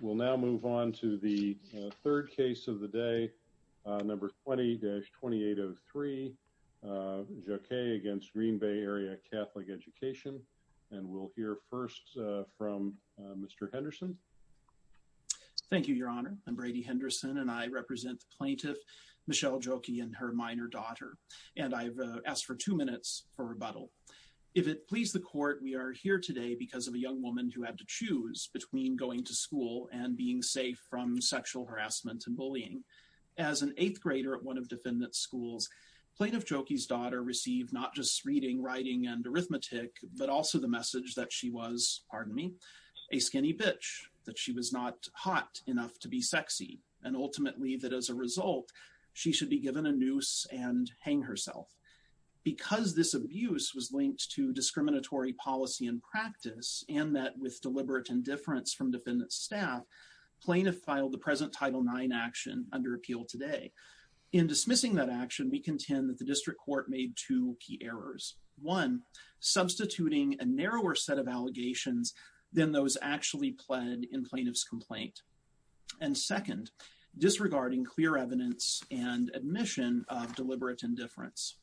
We'll now move on to the third case of the day, number 20-2803, Jauquet against Green Bay Area Catholic Education. And we'll hear first from Mr. Henderson. Thank you, Your Honor. I'm Brady Henderson, and I represent the plaintiff, Michelle Jauquet, and her minor daughter. And I've asked for two minutes for rebuttal. If it pleases the court, we are here today because of a young woman who had to choose between going to school and being safe from sexual harassment and bullying. As an eighth grader at one of defendant schools, plaintiff Jauquet's daughter received not just reading, writing, and arithmetic, but also the message that she was, pardon me, a skinny bitch, that she was not hot enough to be sexy, and ultimately that as a result, she should be given a noose and hang herself. Because this abuse was linked to discriminatory policy and practice, and that with deliberate indifference from defendant staff, plaintiff filed the present Title IX action under appeal today. In dismissing that action, we contend that the district court made two key errors. One, substituting a narrower set of allegations than those actually pled in plaintiff's complaint. And second, disregarding clear evidence and admission of deliberate indifference.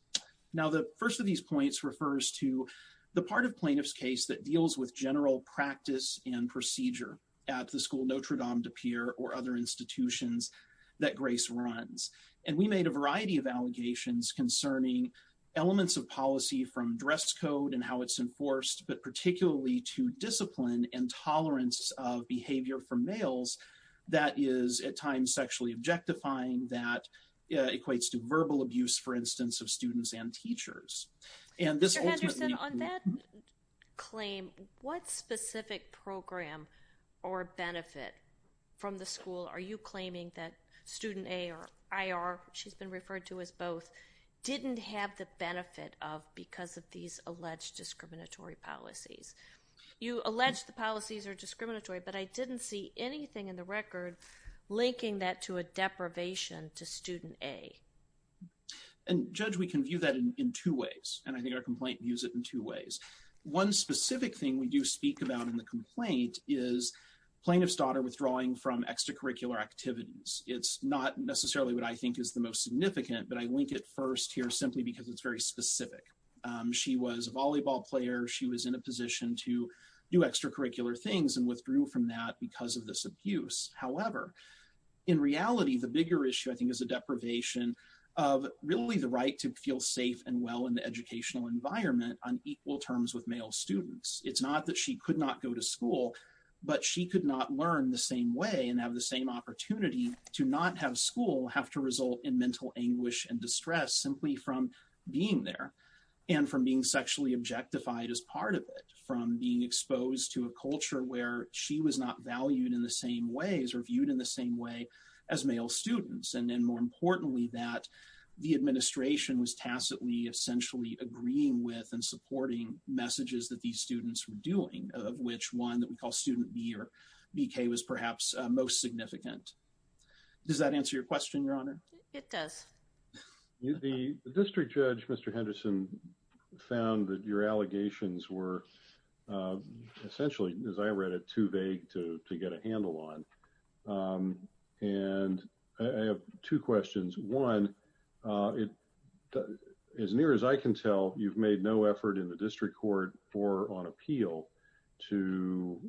Now, the first of these points refers to the part of plaintiff's case that deals with general practice and procedure at the school Notre Dame de Pierre or other institutions that Grace runs. And we made a variety of allegations concerning elements of policy from dress code and how it's enforced, but particularly to discipline and tolerance of behavior for males that is at times sexually objectifying, that equates to that. On that claim, what specific program or benefit from the school are you claiming that student A or IR, she's been referred to as both, didn't have the benefit of because of these alleged discriminatory policies? You allege the policies are discriminatory, but I didn't see anything in the record linking that to a deprivation to student A. And Judge, we can view that in two ways. And I think our complaint views it in two ways. One specific thing we do speak about in the complaint is plaintiff's daughter withdrawing from extracurricular activities. It's not necessarily what I think is the most significant, but I link it first here simply because it's very specific. She was a volleyball player, she was in a position to do extracurricular things and withdrew from that because of this abuse. However, in reality, the bigger issue I think is a deprivation of really the right to feel safe and well in the educational environment on equal terms with male students. It's not that she could not go to school, but she could not learn the same way and have the same opportunity to not have school have to result in mental anguish and distress simply from being there and from being sexually objectified as part of it, from being exposed to a culture where she was not valued in the same ways or viewed in the same way as male students. And then more importantly, that the administration was tacitly essentially agreeing with and supporting messages that these students were doing, of which one that we call student B or BK was perhaps most significant. Does that answer your question, Your Honor? It does. The district judge, Mr. Henderson, found that your allegations were essentially, as I read it, too vague to get a handle on. And I have two questions. One, as near as I can tell, you've made no effort in the district court or on appeal to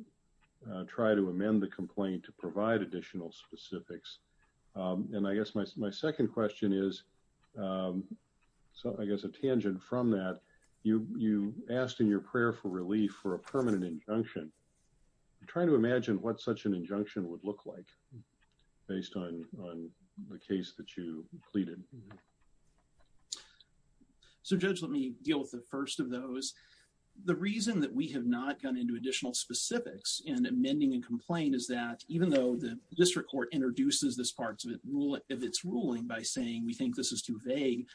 try to amend the complaint to provide additional specifics. And I guess my from that, you asked in your prayer for relief for a permanent injunction. I'm trying to imagine what such an injunction would look like based on the case that you pleaded. So, Judge, let me deal with the first of those. The reason that we have not gone into additional specifics in amending a complaint is that even though the district court introduces this part of its ruling by saying we think this is too vague,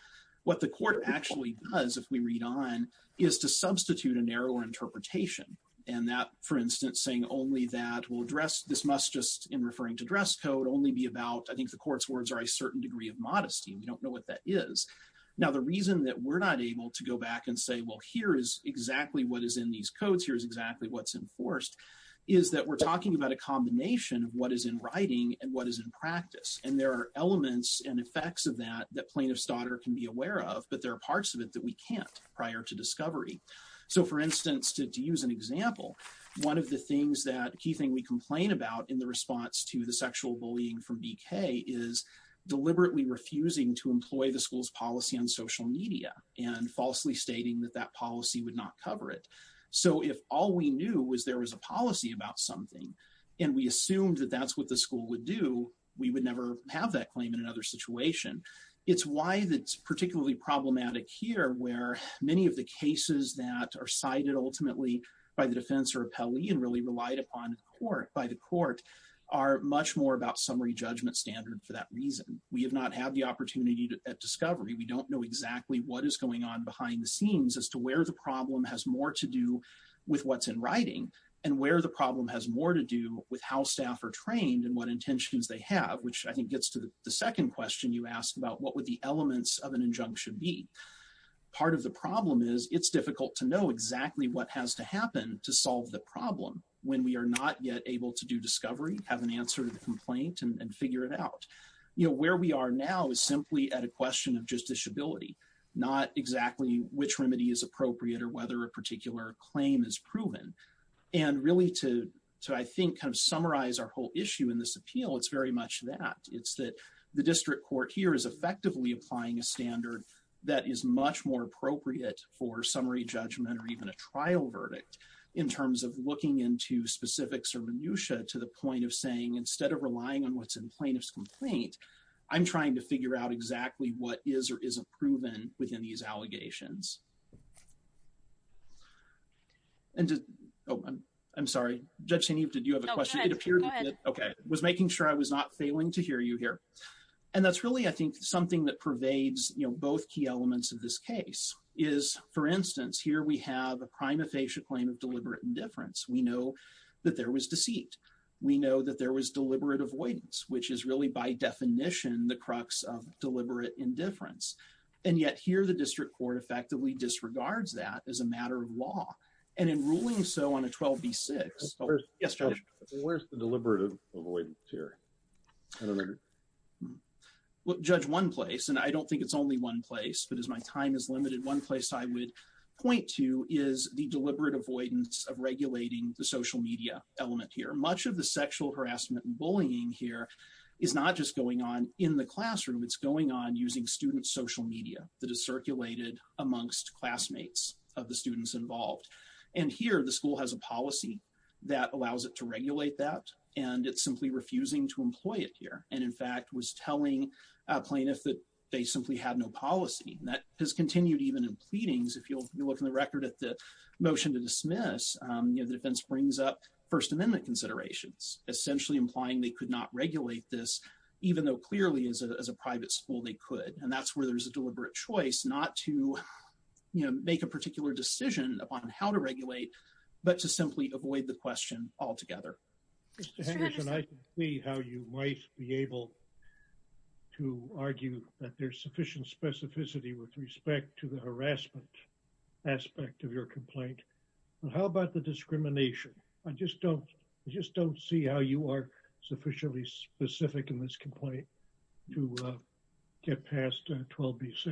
what the court actually does, if we read on, is to substitute a narrower interpretation. And that, for instance, saying only that will address this must just, in referring to dress code, only be about I think the court's words are a certain degree of modesty. We don't know what that is. Now, the reason that we're not able to go back and say, well, here is exactly what is in these codes. Here's exactly what's enforced, is that we're talking about a combination of what is in writing and what is in practice. And there are elements and effects of that that plaintiff's daughter can be aware of, but there are parts of it that we can't prior to discovery. So, for instance, to use an example, one of the things that a key thing we complain about in the response to the sexual bullying from BK is deliberately refusing to employ the school's policy on social media and falsely stating that that policy would not cover it. So, if all we knew was there was a policy about something and we assumed that that's what the school would do, we would never have that claim in another situation. It's why it's particularly problematic here, where many of the cases that are cited ultimately by the defense or appellee and really relied upon by the court are much more about summary judgment standard for that reason. We have not had the opportunity at discovery. We don't know exactly what is going on behind the scenes as to where the problem has more to do with what's in writing and where the problem has more to do with how staff are trained and what intentions they have, which I think gets to the second question you asked about what would the elements of an injunction be. Part of the problem is it's difficult to know exactly what has to happen to solve the problem when we are not yet able to do discovery, have an answer to the complaint and figure it out. You know, where we are now is simply at a question of justiciability, not exactly which remedy is appropriate or whether a particular claim is proven. And really to I think kind of summarize our whole issue in this appeal, it's very much that. It's that the district court here is effectively applying a standard that is much more appropriate for summary judgment or even a trial verdict in terms of looking into specifics or minutia to the point of saying instead of relying on what's in plaintiff's complaint, I'm trying to figure out exactly what is or isn't proven within these allegations. And oh, I'm sorry, Judge Senev, did you have a question? Okay, was making sure I was not failing to hear you here. And that's really, I think, something that pervades, you know, both key elements of this case is, for instance, here we have a prima facie claim of deliberate indifference. We know that there was deceit. We know that there was deliberate avoidance, which is really by definition, the crux of deliberate indifference. And yet here, the district court effectively disregards that as a matter of law. And in ruling so on a 12 v six. Yes, where's the deliberative avoidance here? Well, Judge one place, and I don't think it's only one place, but as my time is limited, one place I would point to is the deliberate avoidance of regulating the social media element here. Much of the sexual harassment and bullying here is not just going on in the classroom, it's going on using student social media that is circulated amongst classmates of the students involved. And here the school has a policy that allows it to regulate that. And it's simply refusing to employ it here. And in fact, was telling plaintiffs that they simply had no policy that has continued even in pleadings. If you look in the record at the motion to dismiss, you know, the defense brings up First Amendment considerations, essentially implying they could not regulate this, even though clearly as a private school, they could. And that's where there's a deliberate choice not to, you know, make a particular decision upon how to regulate, but to simply avoid the question altogether. How you might be able to argue that there's sufficient specificity with respect to the harassment aspect of your complaint? And how about the discrimination? I just don't, I just don't see how you are sufficiently specific in this complaint to get past 12B6.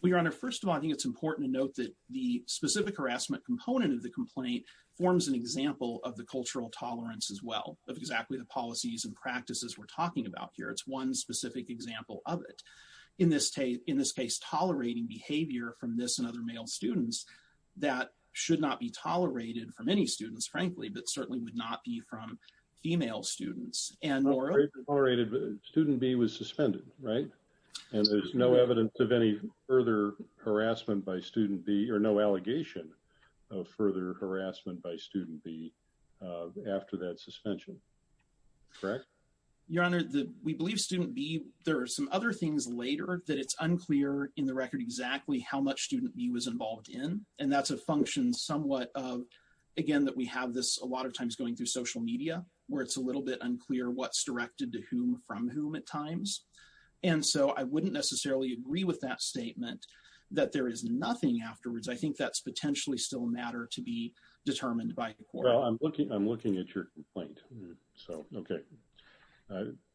Well, Your Honor, first of all, I think it's important to note that the specific harassment component of the complaint forms an example of the cultural tolerance as well, of exactly the policies and practices we're talking about here. It's one specific example of it. In this case, tolerating behavior from this and other male students, that should not be tolerated for many students, frankly, but certainly would not be from female students. Student B was suspended, right? And there's no evidence of any further harassment by student B or no allegation of further harassment by student B after that suspension. Correct? Your Honor, we believe student B, there are some other things later that it's unclear in the record exactly how much student B was involved in. And that's a function somewhat of, again, that we have this a lot of times going through social media, where it's a little bit unclear what's directed to whom from whom at times. And so I wouldn't necessarily agree with that statement that there is nothing afterwards. I think that's potentially still a matter to be determined by court. Well, I'm looking at your complaint. So okay.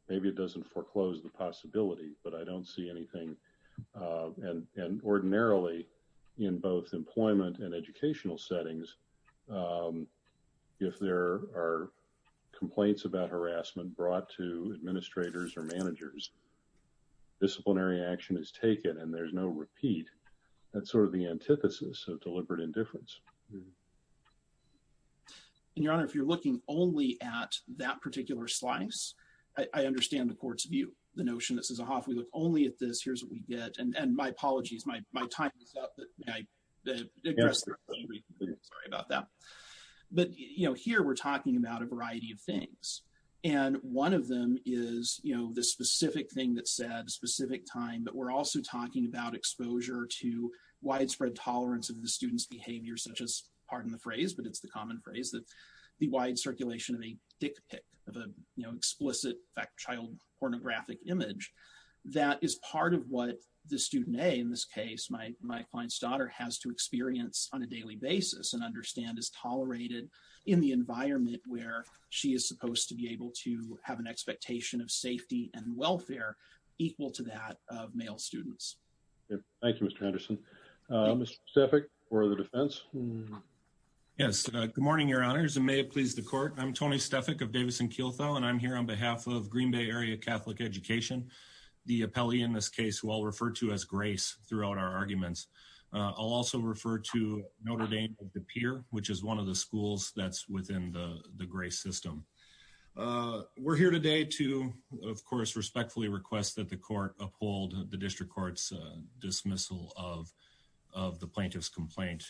Maybe it doesn't foreclose the possibility, but I don't see anything. And ordinarily, in both employment and educational settings, if there are complaints about harassment brought to administrators or managers, disciplinary action is taken, and there's no repeat. That's sort of the antithesis of deliberate indifference. And Your Honor, if you're looking only at that particular slice, I understand the court's view, the notion that says, Aha, if we look only at this, here's what we get. And my apologies, my time is up. Sorry about that. But you know, here, we're talking about a variety of things. And one of them is, you know, the specific thing that said specific time, but we're also talking about exposure to widespread tolerance of the student's behavior, such as pardon the phrase, but it's the common phrase that the wide circulation of a dick pic of a, you know, explicit fact child pornographic image, that is part of what the student a in this case, my my client's daughter has to experience on a daily basis and understand is tolerated in the environment where she is supposed to be able to have an expectation of safety and welfare, equal to that of male students. Thank you, Mr. Anderson. Specific for the defense. Yes. Good morning, Your Honors. And may it please the court. I'm Tony Stefik of Davidson Kieltho. And I'm here on behalf of Green Bay Area Catholic Education, the appellee in this case, who I'll refer to as grace throughout our arguments. I'll also refer to Notre Dame, the pier, which is one of the schools that's within the grace system. We're here today to, of course, respectfully request that the court uphold the district court's dismissal of, of the plaintiff's complaint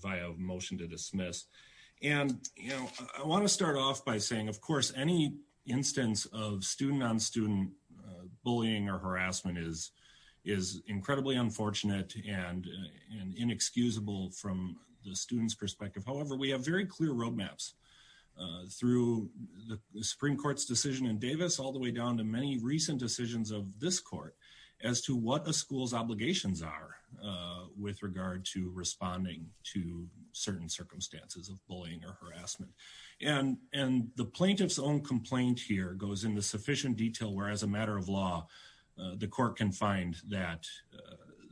via motion to dismiss. And, you know, I want to start off by saying, of course, any instance of student on student bullying or harassment is, is incredibly unfortunate and inexcusable from the students perspective. However, we have very clear roadmaps through the Supreme Court's decision in Davis, all the way down to many recent decisions of this court as to what the school's obligations are with regard to responding to certain circumstances of bullying or harassment. And, and the plaintiff's own complaint here goes in the sufficient detail, whereas a matter of law, the court can find that,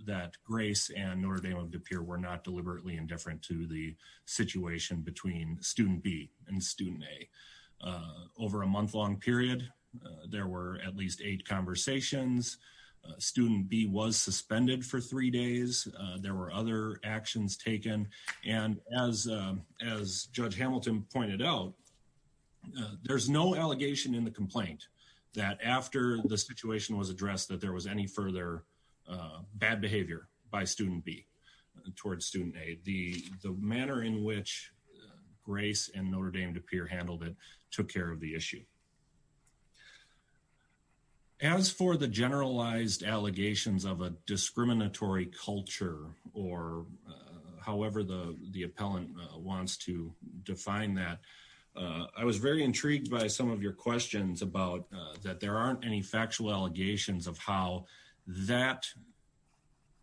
that grace and Notre Dame is absolutely indifferent to the situation between student B and student A over a month long period, there were at least eight conversations. Student B was suspended for three days. There were other actions taken. And as, as judge Hamilton pointed out, there's no allegation in the complaint that after the situation was addressed, that there was any further bad behavior by student B towards student A. The, the manner in which grace and Notre Dame Depeer handled it, took care of the issue. As for the generalized allegations of a discriminatory culture, or however the, the appellant wants to define that, I was very intrigued by some of your questions about that there aren't any factual allegations of how that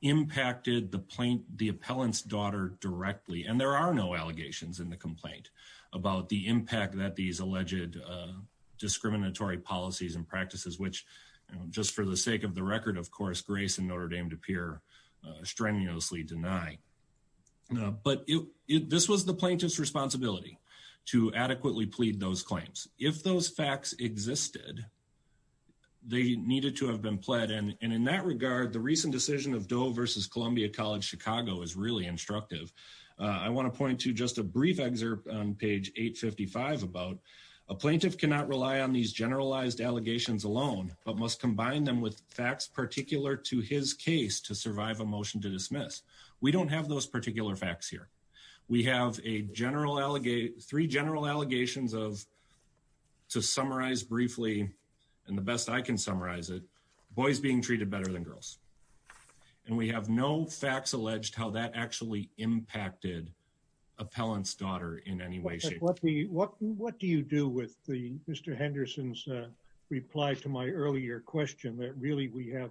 impacted the plaintiff, the appellant's daughter directly. And there are no allegations in the complaint about the impact that these alleged discriminatory policies and practices, which just for the sake of the record, of course, grace and Notre Dame Depeer strenuously deny. But this was the plaintiff's responsibility to adequately plead those claims. If those facts existed, they needed to have been pled. And in that regard, the recent decision of Doe versus Columbia College Chicago is really instructive. I want to point to just a brief excerpt on page 855 about a plaintiff cannot rely on these generalized allegations alone, but must combine them with facts particular to his case to survive a motion to dismiss. We don't have those particular facts here. We have a three general allegations of, to summarize briefly, and the best I can summarize it, boys being treated better than girls. And we have no facts alleged how that actually impacted appellant's daughter in any way, shape, or form. What do you do with Mr. Henderson's reply to my earlier question that really we have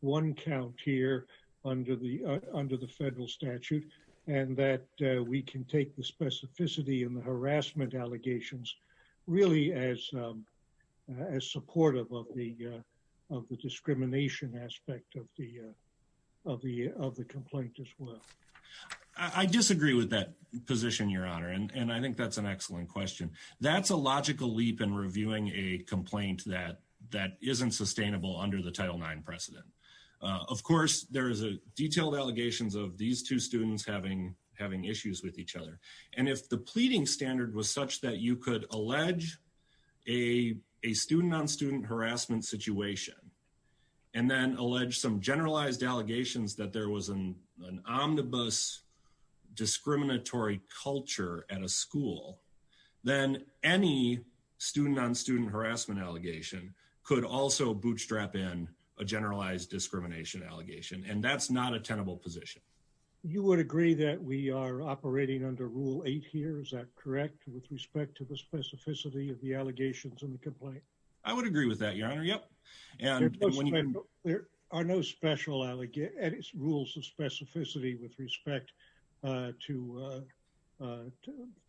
one count here under the federal statute and that we can take the specificity and the harassment allegations really as supportive of the discrimination aspect of the complaint as well? I disagree with that position, your honor. And I think that's an excellent question. That's a logical leap in reviewing a complaint that isn't sustainable under the Title IX precedent. Of course, there is a each other. And if the pleading standard was such that you could allege a student-on-student harassment situation and then allege some generalized allegations that there was an omnibus discriminatory culture at a school, then any student-on-student harassment allegation could also bootstrap in a generalized discrimination allegation. And that's not a tenable position. You would agree that we are operating under Rule 8 here, is that correct, with respect to the specificity of the allegations in the complaint? I would agree with that, your honor. Yep. And there are no special rules of specificity with respect to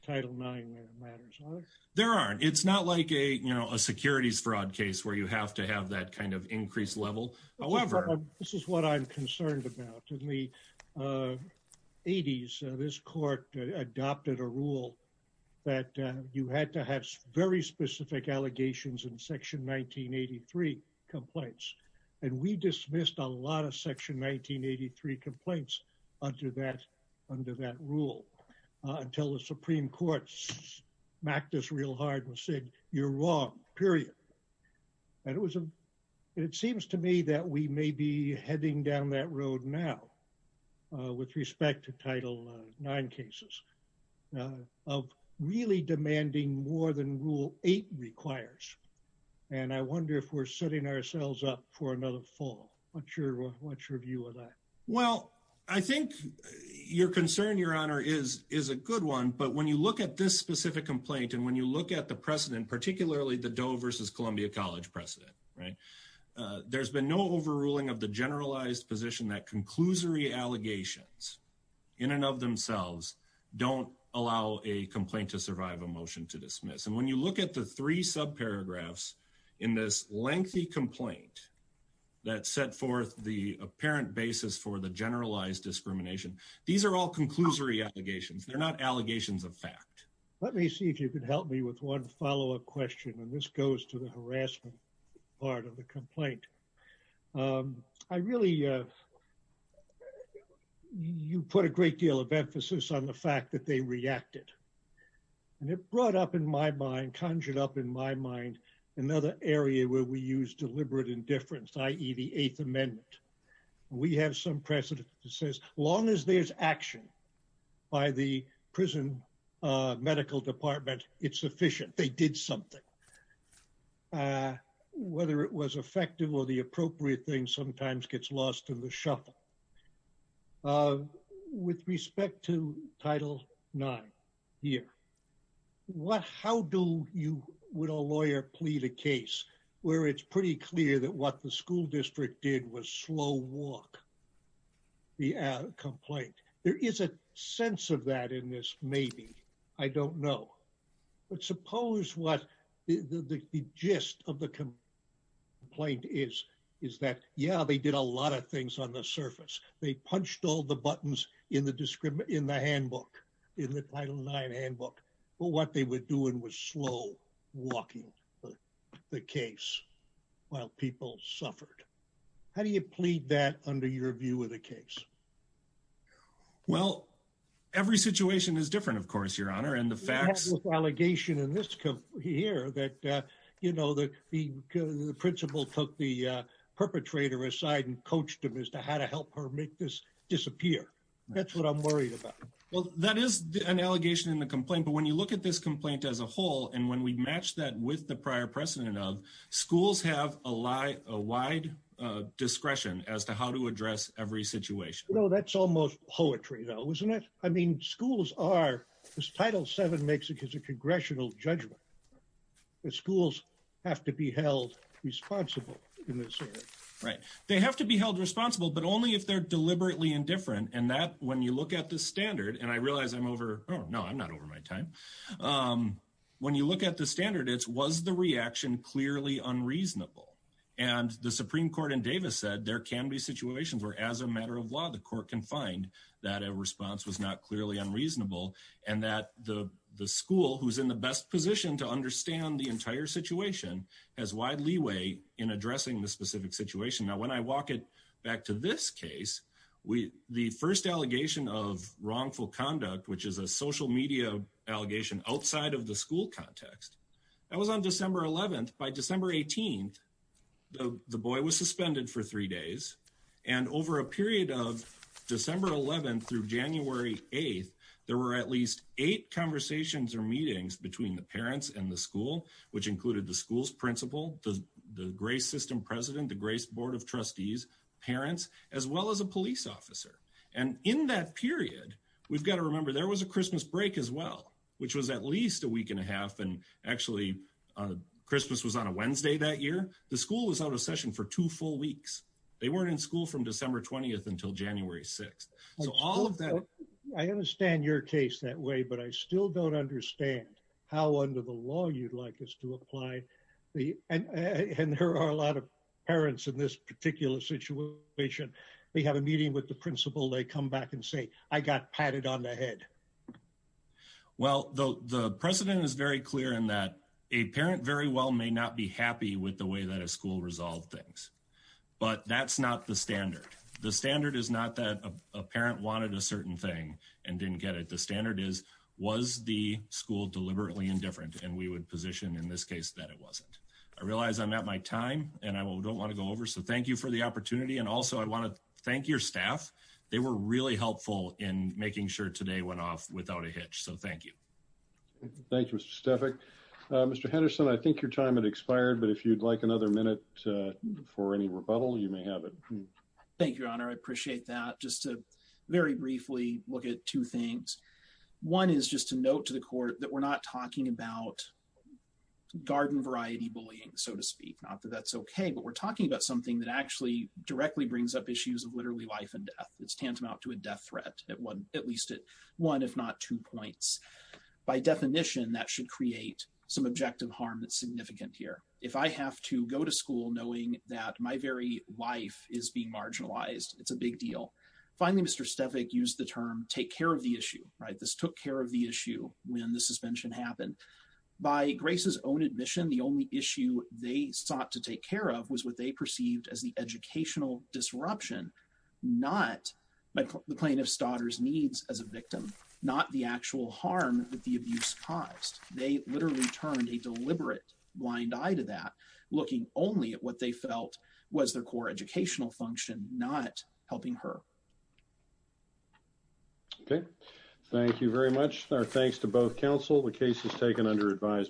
Title IX matters. There aren't. It's not like a securities fraud case where you have to have that kind of increased level. However, this is what I'm concerned about. In the 80s, this court adopted a rule that you had to have very specific allegations in Section 1983 complaints. And we dismissed a lot of Section 1983 complaints under that rule until the Supreme Court smacked us real hard and said, you're wrong, period. And it seems to me that we may be heading down that road now with respect to Title IX cases of really demanding more than Rule 8 requires. And I wonder if we're setting ourselves up for another fall. What's your view of that? Well, I think your concern, your honor, is a good one. But when you look at this specific complaint and when you look at the precedent, particularly the Doe versus Columbia College precedent, right, there's been no overruling of the generalized position that conclusory allegations in and of themselves don't allow a complaint to survive a motion to dismiss. And when you look at the three subparagraphs in this lengthy complaint that set forth the apparent basis for the generalized discrimination, these are all conclusory allegations. They're not allegations of fact. Let me see if you could help me with one follow-up question. And this goes to the harassment part of the complaint. I really, you put a great deal of emphasis on the fact that they reacted. And it brought up in my mind, conjured up in my mind, another area where we use deliberate indifference, i.e. the Eighth Amendment. We have some precedent that says as long as there's action by the prison medical department, it's sufficient. They did something. Whether it was effective or the appropriate thing sometimes gets lost in the shuffle. With respect to Title IX here, how do you, would a lawyer plead a case where it's pretty clear that what the school district did was slow walk the complaint? There is a sense of that in this maybe, I don't know. But suppose what the gist of the complaint is, is that, yeah, they did a lot of things on the surface. They punched all the buttons in the handbook, in the Title IX handbook, but what they were doing was slow walking the case while people suffered. How do you plead that under your view of the case? Well, every situation is different, of course, Your Honor. And the facts... There's an allegation in this here that the principal took the perpetrator aside and coached him as to how to help her make this disappear. That's what I'm worried about. Well, that is an allegation in the complaint, but when you look at this complaint as a whole, and when we match that with the prior precedent of, schools have a wide discretion as to how to address every situation. Well, that's almost poetry though, isn't it? I mean, schools are, as Title VII makes it, it's a congressional judgment. The schools have to be held responsible in this area. Right. They have to be held responsible, but only if they're deliberately indifferent. And that, when you look at the standard, and I realize I'm over... No, I'm not over my time. When you look at the standard, it's, was the reaction clearly unreasonable? And the Supreme Court in Davis said there can be situations where as a matter of law, the court can find that a response was not clearly unreasonable, and that the school who's in the best position to understand the entire situation has wide leeway in addressing the specific situation. Now, when I walk it back to this case, the first allegation of wrongful conduct, which is a social media allegation outside of the school context, that was on December 11th. By December 18th, the boy was suspended for three days. And over a period of December 11th through January 8th, there were at least eight conversations or meetings between the parents and the school, which included the school's principal, the grace system president, the grace board of trustees, parents, as well as a police officer. And in that period, we've got to remember there was a Christmas break as well, which was at least a week and a half. And actually, Christmas was on a Wednesday that year. The school was out of session for two full weeks. They weren't in school from December 20th until January 6th. So all of that... I understand your case that way, but I still don't understand how under the law you'd like us to apply the... And there are a lot of parents in this particular situation. They have a meeting with the principal, they come back and say, I got patted on the head. Well, the precedent is very clear in that a parent very well may not be happy with the way that a school resolved things. But that's not the standard. The standard is not that a parent wanted a certain thing and didn't get it. The standard is, was the school deliberately indifferent? And we would position in this case that it wasn't. I realize I'm at my time and I don't want to go over. So thank you for the opportunity. And also, I want to thank your staff. They were really helpful in making sure today went off without a hitch. So thank you. Thank you, Mr. Stefik. Mr. Henderson, I think your time had expired, but if you'd like another minute for any rebuttal, you may have it. Thank you, Your Honor. I appreciate that. Just to very briefly look at two things. One is just to note to the court that we're not talking about garden variety bullying, so to speak. Not that that's okay, but we're talking about something that actually directly brings up issues of literally life and death. It's tantamount to a death threat at one, at least at one, if not two points. By definition, that should create some objective harm that's significant here. If I have to go to school knowing that my very life is being marginalized, it's a big deal. Finally, Mr. Stefik used the term, take care of the issue, right? This took care of the issue when the suspension happened. By Grace's own admission, the only issue they sought to take care of was what they perceived as the educational disruption, not the plaintiff's daughter's needs as a victim, not the actual harm that the abuse caused. They literally turned a deliberate blind eye to that, looking only at what they felt was their core educational function, not helping her. Okay. Thank you very much. Our thanks to both counsel. The case is taken under advisement.